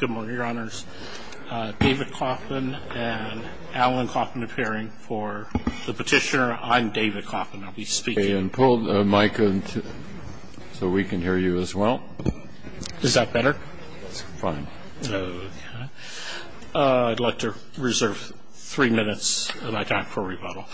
Good morning, your honors. David Coffman and Alan Coffman appearing for the petitioner. I'm David Coffman, I'll be speaking. Pull the mic so we can hear you as well. Is that better? It's fine. I'd like to reserve three minutes of my time for rebuttal.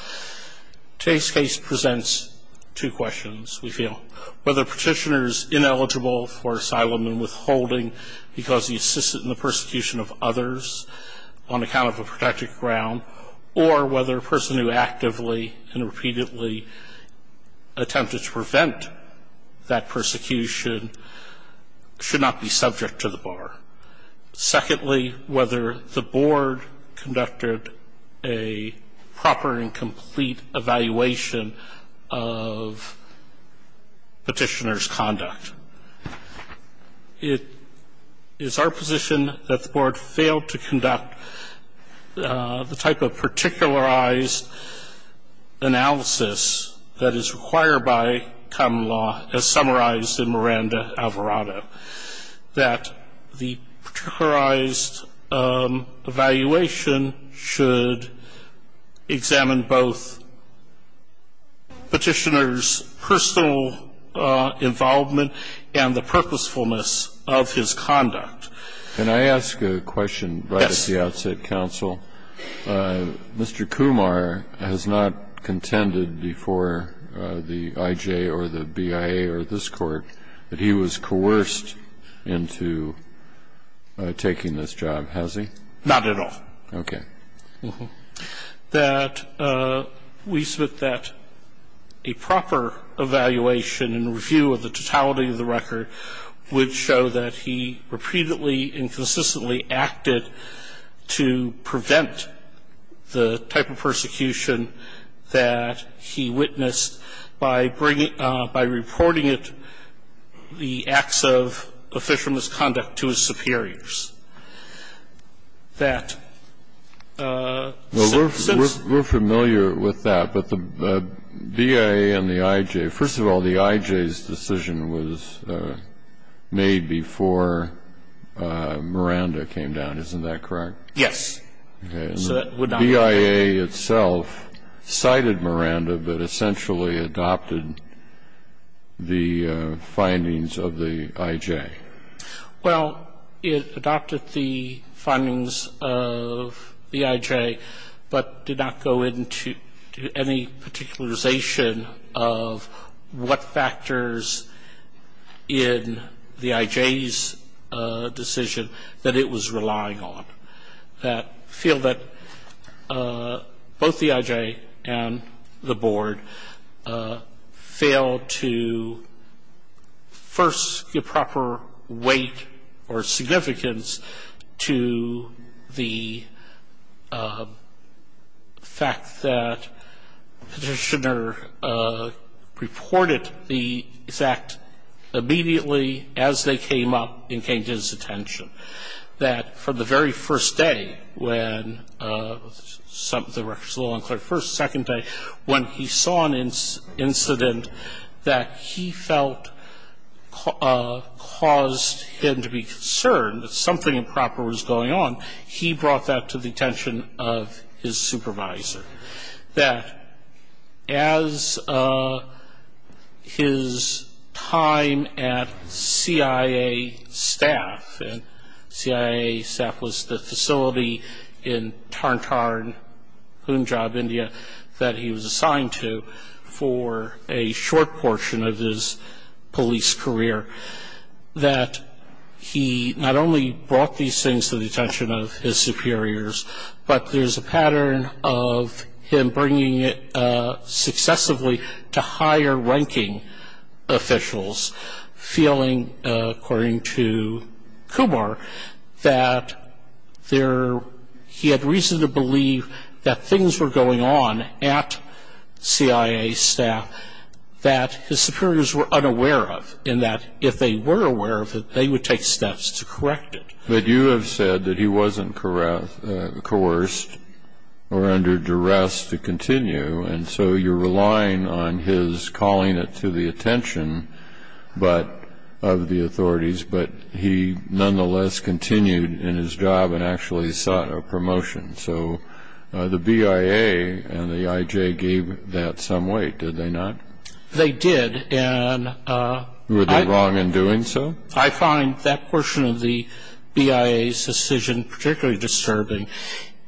Today's case presents two questions, we feel. Whether a petitioner is ineligible for asylum and withholding because he assisted in the persecution of others on account of a protected ground, or whether a person who actively and repeatedly attempted to prevent that persecution should not be subject to the bar. Secondly, whether the board conducted a proper and complete evaluation of petitioner's conduct. It is our position that the board failed to conduct the type of particularized analysis that is required by common law, as summarized in Miranda Alvarado. That the particularized evaluation should examine both petitioner's personal involvement and the purposefulness of his conduct. Can I ask a question? Yes. At the outset, counsel, Mr. Kumar has not contended before the IJ or the BIA or this Court that he was coerced into taking this job, has he? Not at all. Okay. That we submit that a proper evaluation and review of the totality of the record would show that he repeatedly and consistently acted to prevent the type of persecution that he witnessed by bringing, by reporting it, the acts of official misconduct to his superiors. That since... We're familiar with that, but the BIA and the IJ, first of all, the IJ's decision was made before Miranda came down. Isn't that correct? Yes. Okay. The BIA itself cited Miranda, but essentially adopted the findings of the IJ. Well, it adopted the findings of the IJ, but did not go into any particularization of what factors in the IJ's decision that it was relying on. I feel that both the IJ and the Board failed to first give proper weight or significance to the fact that Petitioner reported the act immediately as they came up and came to his attention, that from the very first day when the record is a little unclear, first, second day, when he saw an incident that he felt caused him to be concerned that something improper was going on, he brought that to the attention of his supervisor. That as his time at CIA staff, and CIA staff was the facility in Tantan, Punjab, India, that he was assigned to for a short portion of his police career, that he not only brought these things to the attention of his superiors, but there's a pattern of him bringing it successively to higher ranking officials, feeling, according to Kumar, that he had reason to believe that things were going on at CIA staff that his superiors were unaware of, and that if they were aware of it, they would take steps to correct it. But you have said that he wasn't coerced or under duress to continue, and so you're relying on his calling it to the attention of the authorities, but he nonetheless continued in his job and actually sought a promotion. So the BIA and the IJ gave that some weight, did they not? They did. Were they wrong in doing so? I find that portion of the BIA's decision particularly disturbing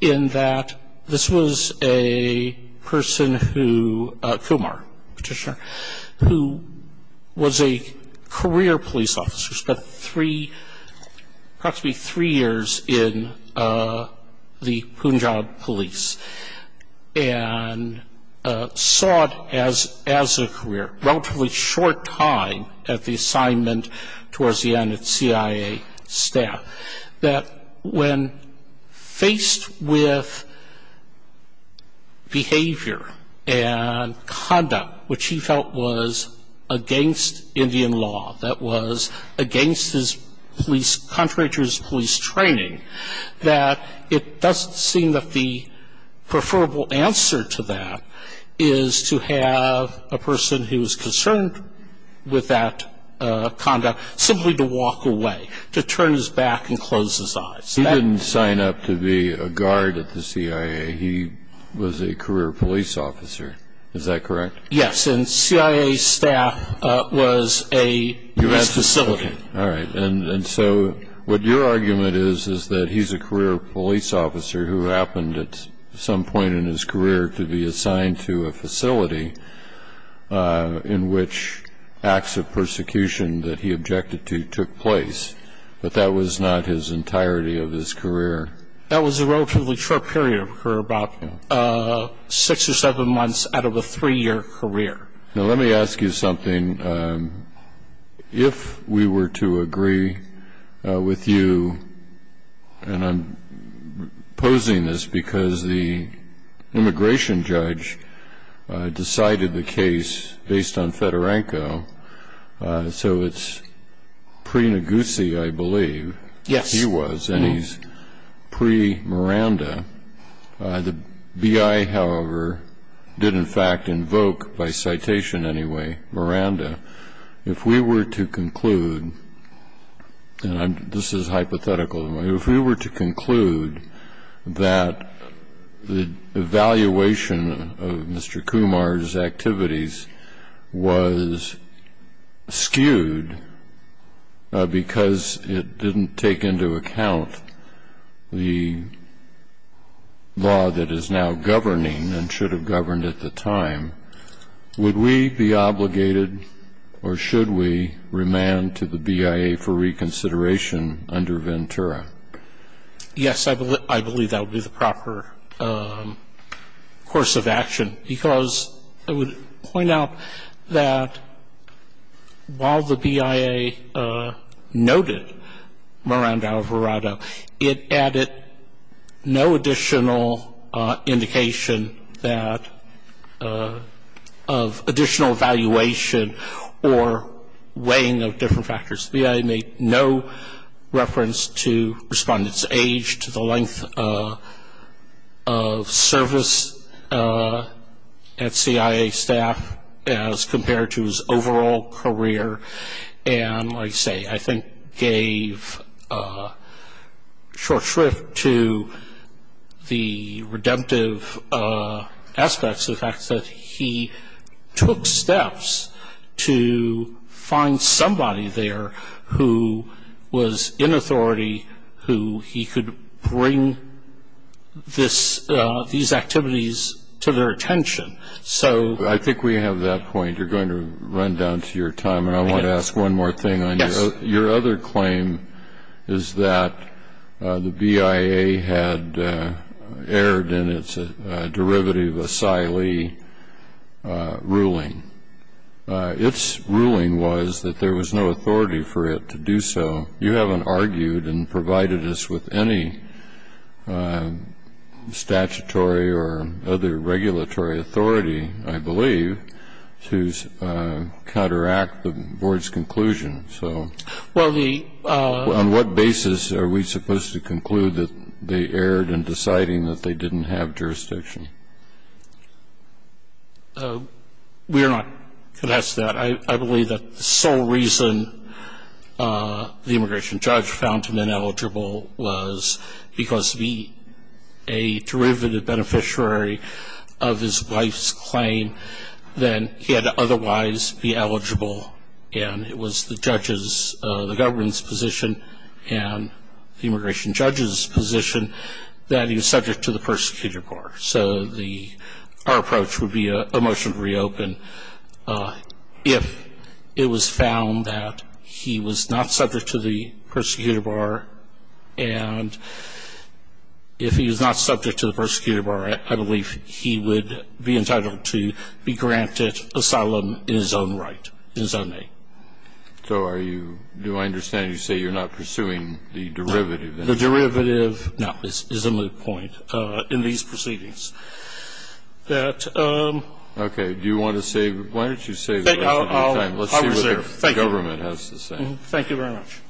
in that this was a person who, Kumar, Petitioner, who was a career police officer, spent approximately three years in the Punjab police, and sought, as a career, relatively short time at the assignment towards the end at CIA staff, that when faced with behavior and conduct which he felt was against Indian law, that was against his police, contrary to his police training, that it doesn't seem that the preferable answer to that is to have a person who is concerned with that conduct simply to walk away, to turn his back and close his eyes. He didn't sign up to be a guard at the CIA. He was a career police officer. Is that correct? Yes, and CIA staff was a police facility. All right. And so what your argument is is that he's a career police officer who happened at some point in his career to be assigned to a facility in which acts of persecution that he objected to took place, but that was not his entirety of his career. That was a relatively short period of career, about six or seven months out of a three-year career. Now, let me ask you something. If we were to agree with you, and I'm posing this because the immigration judge decided the case based on Fedorenko, so it's pre-Naguse, I believe. Yes. He was, and he's pre-Miranda. The BI, however, did in fact invoke, by citation anyway, Miranda. If we were to conclude, and this is hypothetical, if we were to conclude that the evaluation of Mr. Kumar's activities was skewed because it didn't take into account the law that is now governing and should have governed at the time, would we be obligated or should we remand to the BIA for reconsideration under Ventura? Yes, I believe that would be the proper course of action because I would point out that while the BIA noted Miranda Alvarado, it added no additional indication that of additional evaluation or weighing of different factors. The BIA made no reference to respondents' age, to the length of service at CIA staff as compared to his overall career, and I say I think gave short shrift to the redemptive aspects of the fact that he took steps to find somebody there who was in authority who he could bring these activities to their attention. I think we have that point. You're going to run down to your time, and I want to ask one more thing. Your other claim is that the BIA had erred in its derivative asylee ruling. Its ruling was that there was no authority for it to do so. You haven't argued and provided us with any statutory or other regulatory authority, I believe, to counteract the Board's conclusion, so on what basis are we supposed to conclude that they erred in deciding that they didn't have jurisdiction? We are not contested to that. I believe that the sole reason the immigration judge found him ineligible was because he, a derivative beneficiary of his wife's claim, then he had to otherwise be eligible, and it was the judge's, the government's position and the immigration judge's position that he was subject to the persecutor bar. So our approach would be a motion to reopen if it was found that he was not subject to the persecutor bar, and if he was not subject to the persecutor bar, I believe he would be entitled to be granted asylum in his own right, in his own name. So are you, do I understand you say you're not pursuing the derivative? The derivative, no, is a moot point. I'm pursuing the presumption that the perpetrator was not subject to the persecution in these proceedings. That ---- Okay. Do you want to say, why don't you say that at the same time? I will say it. Let's see what the government has to say. Thank you very much.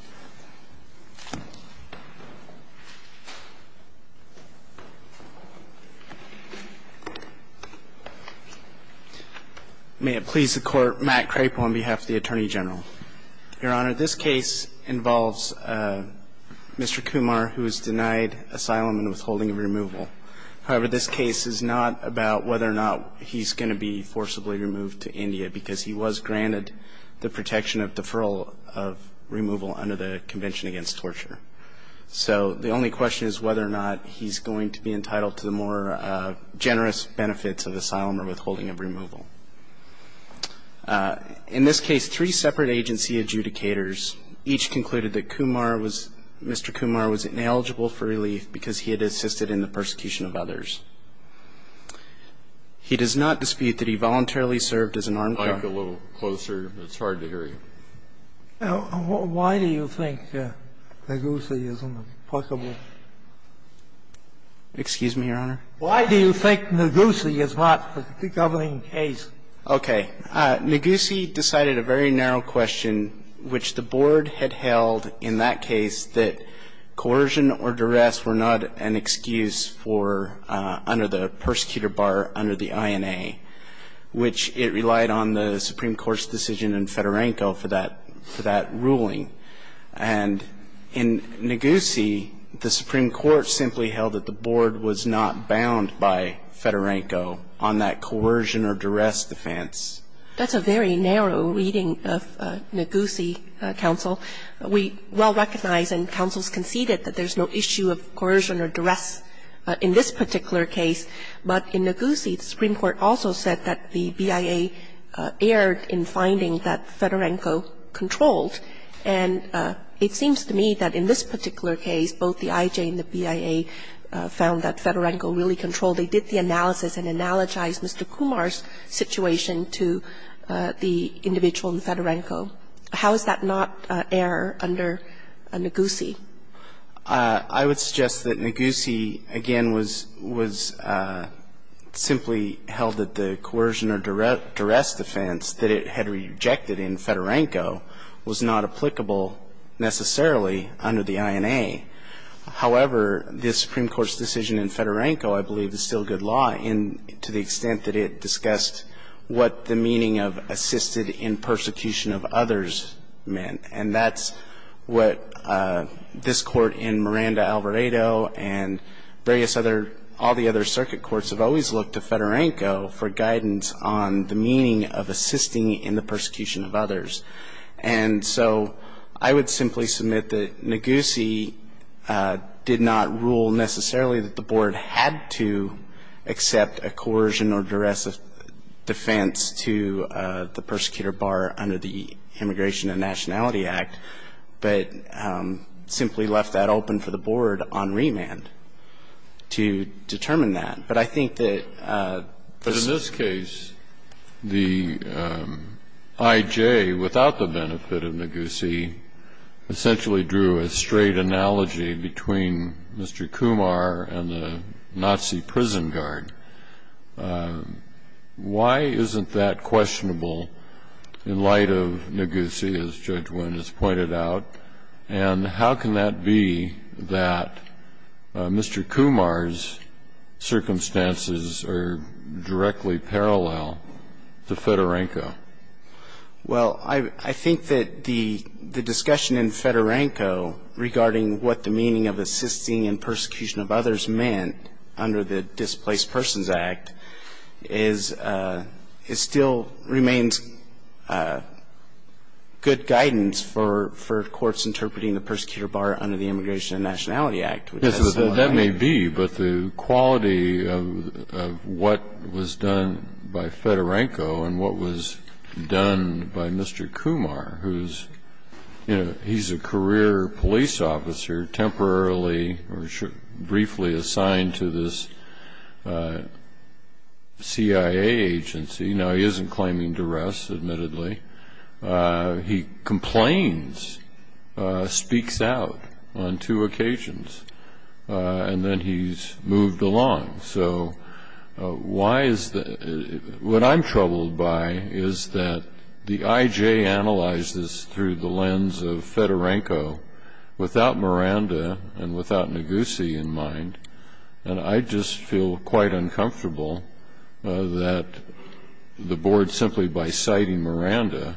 May it please the Court, Matt Crapo on behalf of the Attorney General. Your Honor, this case involves Mr. Kumar, who is denied asylum and withholding removal. However, this case is not about whether or not he's going to be forcibly removed to India because he was granted the protection of deferral of removal under the Indian law. In this case, three separate agency adjudicators each concluded that Kumar was, Mr. Kumar was ineligible for relief because he had assisted in the persecution of others. He does not dispute that he voluntarily served as an armed guard. Mike, a little closer. It's hard to hear you. or withholding of removal? Why do you think Negussi is an applicable? Excuse me, Your Honor? Why do you think Negussi is not a governing case? Okay. Negussi decided a very narrow question, which the Board had held in that case that coercion or duress were not an excuse for under the persecutor bar under the INA, which it relied on the Supreme Court's decision in Fedorenko for that ruling. And in Negussi, the Supreme Court simply held that the Board was not bound by Fedorenko on that coercion or duress defense. That's a very narrow reading of Negussi, counsel. We well recognize and counsels conceded that there's no issue of coercion or duress in this particular case. But in Negussi, the Supreme Court also said that the BIA erred in finding that Fedorenko controlled, and it seems to me that in this particular case, both the IJ and the BIA found that Fedorenko really controlled. They did the analysis and analogized Mr. Kumar's situation to the individual in Fedorenko. How is that not error under Negussi? I would suggest that Negussi, again, was simply held that the coercion or duress defense that it had rejected in Fedorenko was not applicable, necessarily, under the INA. However, this Supreme Court's decision in Fedorenko, I believe, is still good law to the extent that it discussed what the meaning of assisted in persecution of others meant. And that's what this Court in Miranda-Alvarado and various other, all the other circuit courts have always looked to Fedorenko for guidance on the meaning of assisting in the persecution of others. And so I would simply submit that Negussi did not rule, necessarily, that the Board had to accept a coercion or duress defense to the persecutor bar under the INA. And so I would say that the Court in Miranda-Alvarado and various other circuit And so I would say that the Court in Miranda-Alvarado and various other circuit courts have always looked to Fedorenko for guidance on the meaning of assisted And how can that be that Mr. Kumar's circumstances are directly parallel to Fedorenko? And how can that be that Mr. Kumar's circumstances are directly parallel to Fedorenko? Well, I think that the discussion in Fedorenko regarding what the meaning of assisting in persecution of others meant under the Displaced Persons Act is, it still remains good guidance for courts interpreting the persecutor bar under the Immigration and Nationality Act. Yes, that may be, but the quality of what was done by Fedorenko and what was done by Mr. Kumar, who's, you know, he's a career police officer temporarily or briefly assigned to this CIA agency. Now, he isn't claiming duress, admittedly. He complains, speaks out on two occasions, and then he's moved along. So why is that? What I'm troubled by is that the IJ analyzes through the lens of Fedorenko without Miranda and without Ngozi in mind, and I just feel quite uncomfortable that the board, simply by citing Miranda,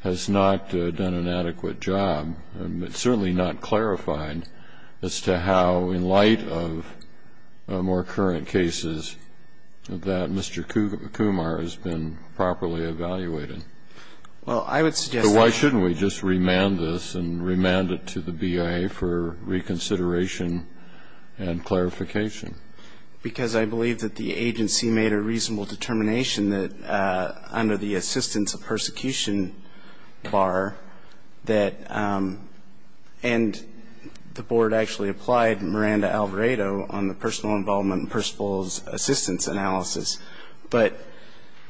has not done an adequate job, and it's certainly not clarifying as to how, in light of more current cases, that Mr. Kumar has been properly evaluated. Well, I would suggest that. So why shouldn't we just remand this and remand it to the BIA for reconsideration and clarification? Because I believe that the agency made a reasonable determination that under the assistance of persecution bar that, and the board actually applied Miranda-Alvarado on the personal involvement and personal assistance analysis. But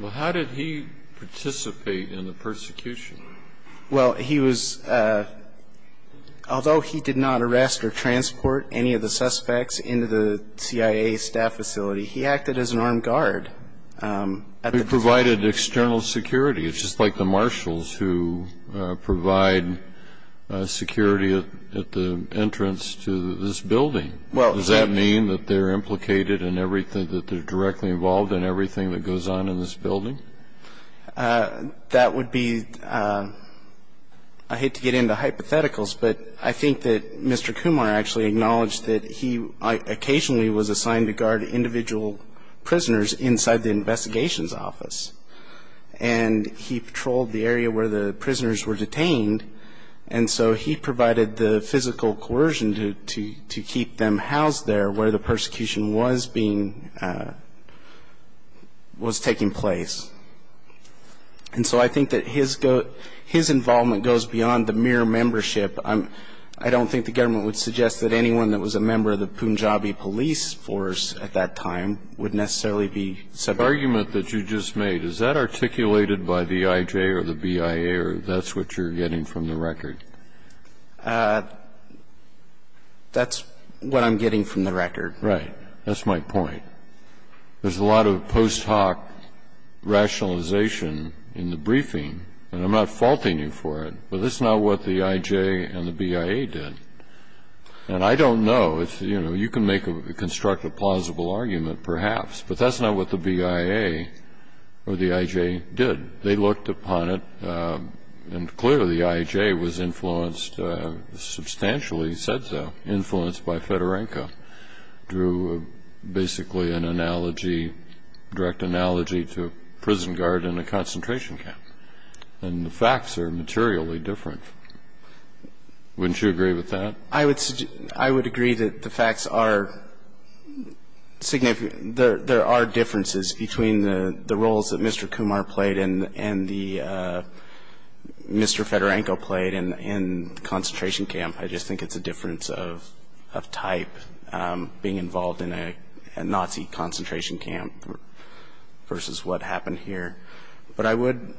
Well, how did he participate in the persecution? Well, he was, although he did not arrest or transport any of the suspects into the CIA staff facility, he acted as an armed guard. He provided external security. It's just like the marshals who provide security at the entrance to this building. Does that mean that they're implicated in everything, that they're directly involved in everything that goes on in this building? That would be, I hate to get into hypotheticals, but I think that Mr. Kumar actually acknowledged that he occasionally was assigned to guard individual prisoners inside the investigations office. And he patrolled the area where the prisoners were detained, and so he provided the information that he needed. But I don't think the government would suggest that anyone who was a member of the Punjabi police force at that time would necessarily be subject to that. The argument that you just made, is that articulated by the IJ or the BIA, or that's what you're getting from the record? That's what I'm getting from the record. Right. That's my point. There's a lot of post hoc rationalization in the briefing, and I'm not faulting you for it, but that's not what the IJ and the BIA did. And I don't know. It's, you know, you can make a constructive plausible argument perhaps, but that's not what the BIA or the IJ did. They looked upon it, and clearly the IJ was influenced, substantially said so, influenced by Fedorenko, drew basically an analogy, direct analogy to a prison guard in a concentration camp. And the facts are materially different. Wouldn't you agree with that? I would agree that the facts are significant. There are differences between the roles that Mr. Kumar played and the Mr. Fedorenko played in the concentration camp. I just think it's a difference of type, being involved in a Nazi concentration camp versus what happened here. But I would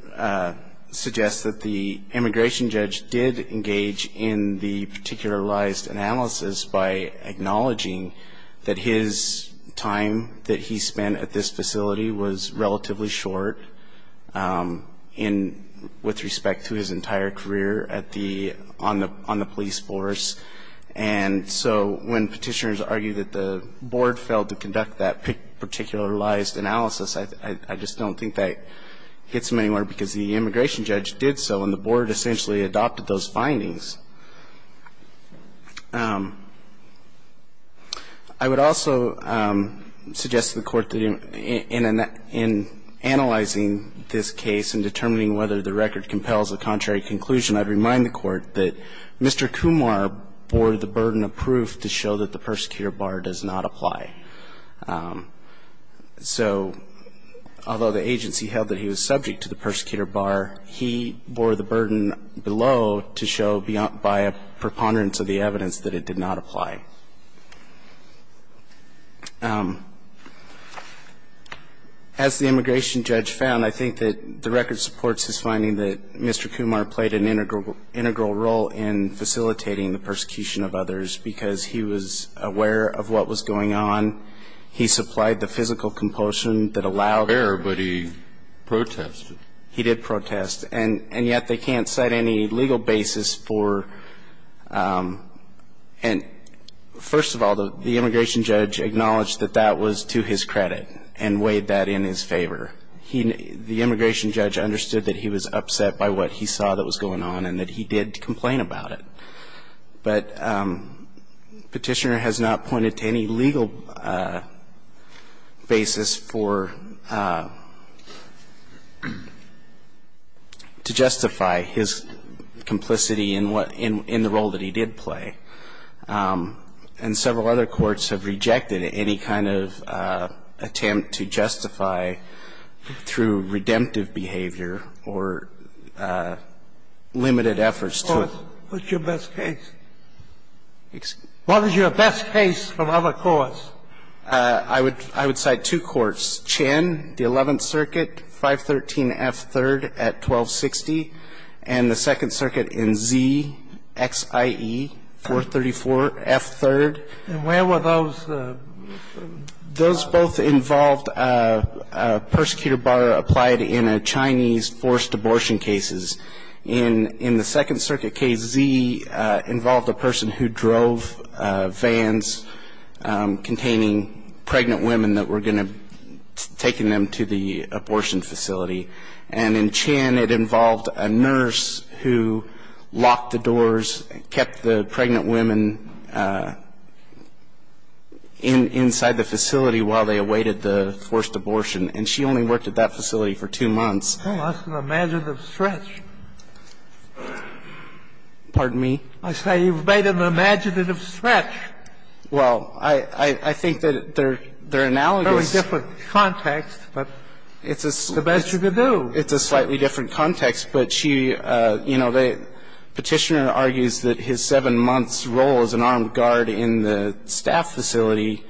suggest that the immigration judge did engage in the particularized analysis by acknowledging that his time that he spent at this facility was relatively short with respect to his entire career on the police force. And so when Petitioners argue that the Board failed to conduct that particularized analysis, I just don't think that gets them anywhere, because the immigration judge did so, and the Board essentially adopted those findings. I would also suggest to the Court that in analyzing this case and determining whether the record compels a contrary conclusion, I'd remind the Court that Mr. Kumar bore the burden of proof to show that the persecutor bar does not apply. So although the agency held that he was subject to the persecutor bar, he bore the burden below to show by a preponderance of the evidence that it did not apply. As the immigration judge found, I think that the record supports his finding that Mr. Kumar played an integral role in facilitating the persecution of others because he was aware of what was going on. He supplied the physical compulsion that allowed him to do so. But he protested. He did protest. And yet they can't cite any legal basis for and, first of all, the immigration judge acknowledged that that was to his credit and weighed that in his favor. The immigration judge understood that he was upset by what he saw that was going on and that he did complain about it. But Petitioner has not pointed to any legal basis for to justify his complicity in what – in the role that he did play. And several other courts have rejected any kind of attempt to justify through redemptive behavior or limited efforts to – What is your best case from other courts? I would cite two courts, Chen, the Eleventh Circuit, 513F3rd at 1260, and the Second Circuit in Z, XIE, 434F3rd. And where were those? Those both involved a persecutor-borrower applied in a Chinese forced abortion cases. In the Second Circuit, K.Z., involved a person who drove vans containing pregnant women that were going to – taking them to the abortion facility. And in Chen, it involved a nurse who locked the doors, kept the pregnant women inside the facility while they awaited the forced abortion. And she only worked at that facility for two months. Well, that's an imaginative stretch. Pardon me? I say you've made an imaginative stretch. Well, I think that they're analogous. Very different context, but the best you could do. It's a slightly different context, but she – you know, the Petitioner argues that his 7 months' role as an armed guard in the staff facility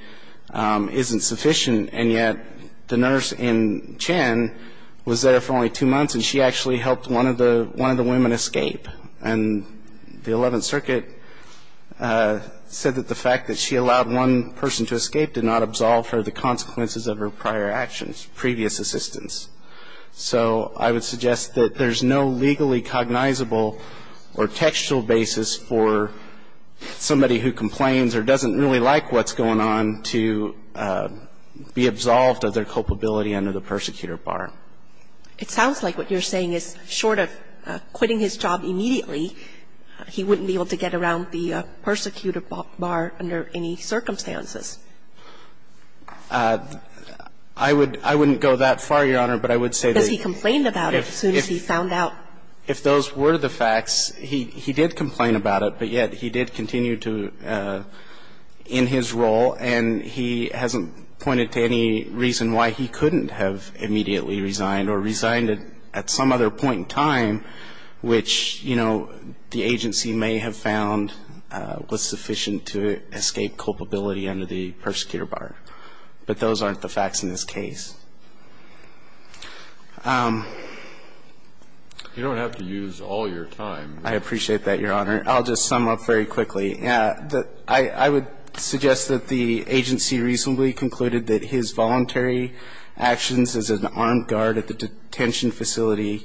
isn't sufficient, and yet the nurse in Chen was there for only two months, and she actually helped one of the women escape. And the Eleventh Circuit said that the fact that she allowed one person to escape did not absolve her of the consequences of her prior actions, previous assistance. So I would suggest that there's no legally cognizable or textual basis for somebody who complains or doesn't really like what's going on to be absolved of their culpability under the persecutor bar. It sounds like what you're saying is short of quitting his job immediately, he wouldn't be able to get around the persecutor bar under any circumstances. I would – I wouldn't go that far, Your Honor, but I would say that he – Because he complained about it as soon as he found out. If those were the facts, he did complain about it, but yet he did continue to – in his role, and he hasn't pointed to any reason why he couldn't have immediately resigned or resigned at some other point in time, which, you know, the agency may have found was sufficient to escape culpability under the persecutor bar. But those aren't the facts in this case. You don't have to use all your time. I appreciate that, Your Honor. I'll just sum up very quickly. I would suggest that the agency reasonably concluded that his voluntary actions as an armed guard at the detention facility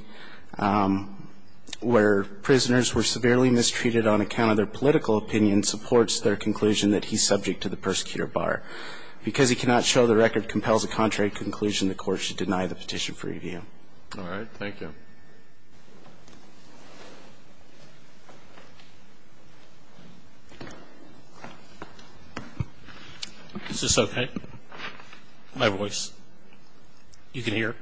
where prisoners were severely mistreated on account of their political opinion supports their conclusion that he's subject to the persecutor bar. Because he cannot show the record compels a contrary conclusion, the Court should deny the petition for review. All right. Thank you. Is this okay, my voice? You can hear?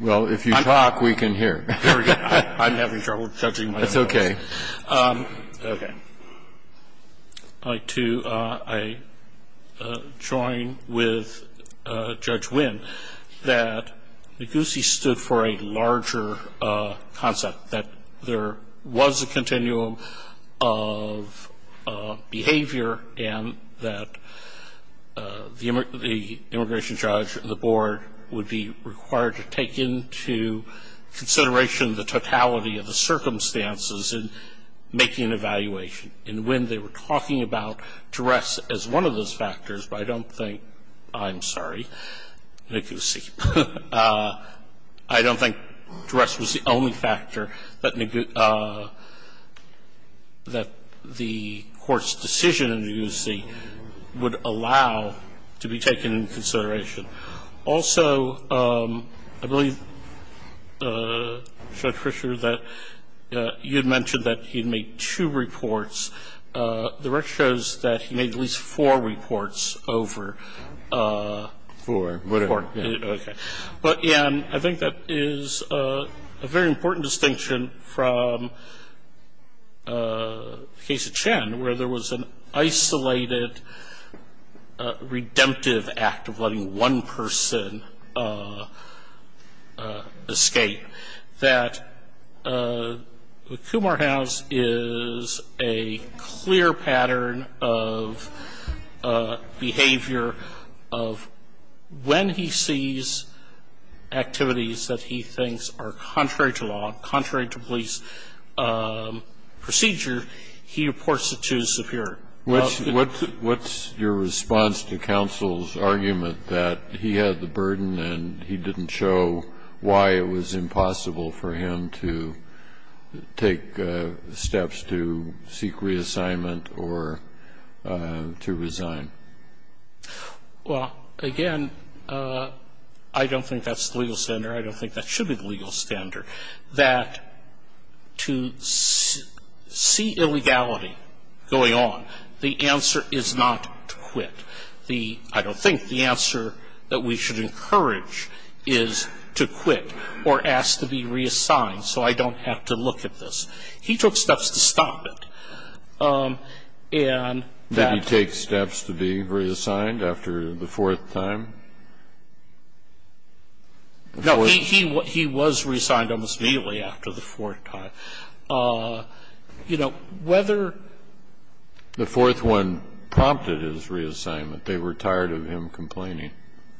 Well, if you talk, we can hear. Very good. I'm having trouble judging my voice. That's okay. Okay. I'd like to join with Judge Winn that Ngozi stood for a larger concept, that there was a continuum of behavior and that the immigration judge and the board would be required to take into consideration the totality of the circumstances in making an evaluation. And when they were talking about duress as one of those factors, I don't think I'm sorry, Ngozi, I don't think duress was the only factor that the Court's decision in Ngozi would allow to be taken into consideration. Also, I believe, Judge Fischer, that you had mentioned that he had made two reports. The record shows that he made at least four reports over. Four. Okay. But, again, I think that is a very important distinction from the case of Chen, where there was an isolated, redemptive act of letting one person escape, that the Kumar House is a clear pattern of behavior of when he sees activities that he thinks are contrary to law, contrary to police procedure, he reports it to his superior. What's your response to counsel's argument that he had the burden and he didn't show why it was impossible for him to take steps to seek reassignment or to resign? Well, again, I don't think that's the legal standard. I don't think that should be the legal standard. I think that the legal standard is that the court has to be very clear that to see illegality going on, the answer is not to quit. The -- I don't think the answer that we should encourage is to quit or ask to be reassigned so I don't have to look at this. He took steps to stop it. Did he take steps to be reassigned after the fourth time? No. He was reassigned almost immediately after the fourth time. You know, whether the fourth one prompted his reassignment, they were tired of him complaining.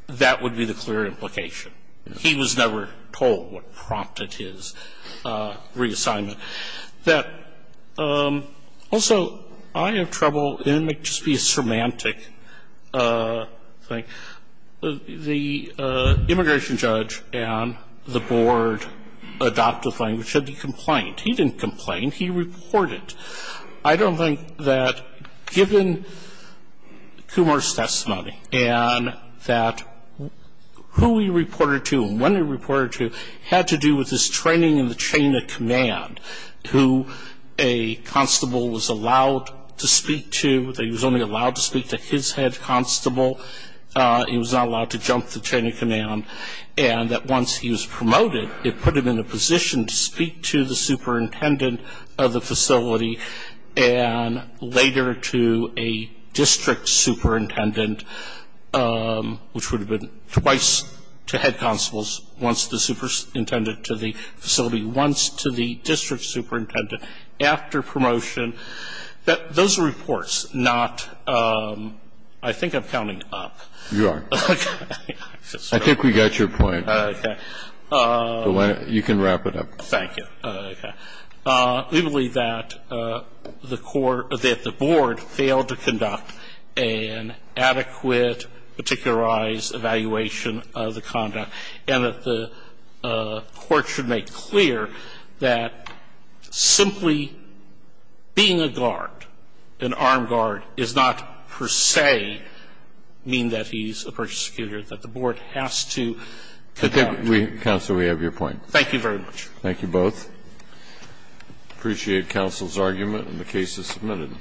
That would be the clear implication. He was never told what prompted his reassignment. Also, I have trouble, and it might just be a semantic thing, the immigration judge and the board adopted language that he complained. He didn't complain. He reported. I don't think that given Kumar's testimony and that who he reported to and when he who a constable was allowed to speak to, that he was only allowed to speak to his head constable, he was not allowed to jump the chain of command, and that once he was promoted, it put him in a position to speak to the superintendent of the facility and later to a district superintendent, which would have been twice to head constables once the superintendent to the facility, once to the district superintendent after promotion, that those reports not – I think I'm counting up. You are. I think we got your point. Okay. You can wrap it up. Thank you. Okay. We believe that the court – that the board failed to conduct an adequate, particularized evaluation of the conduct, and that the court should make clear that simply being a guard, an armed guard, does not per se mean that he's a persecuted, that the board has to conduct. Counsel, we have your point. Thank you very much. Thank you both. I appreciate counsel's argument, and the case is submitted.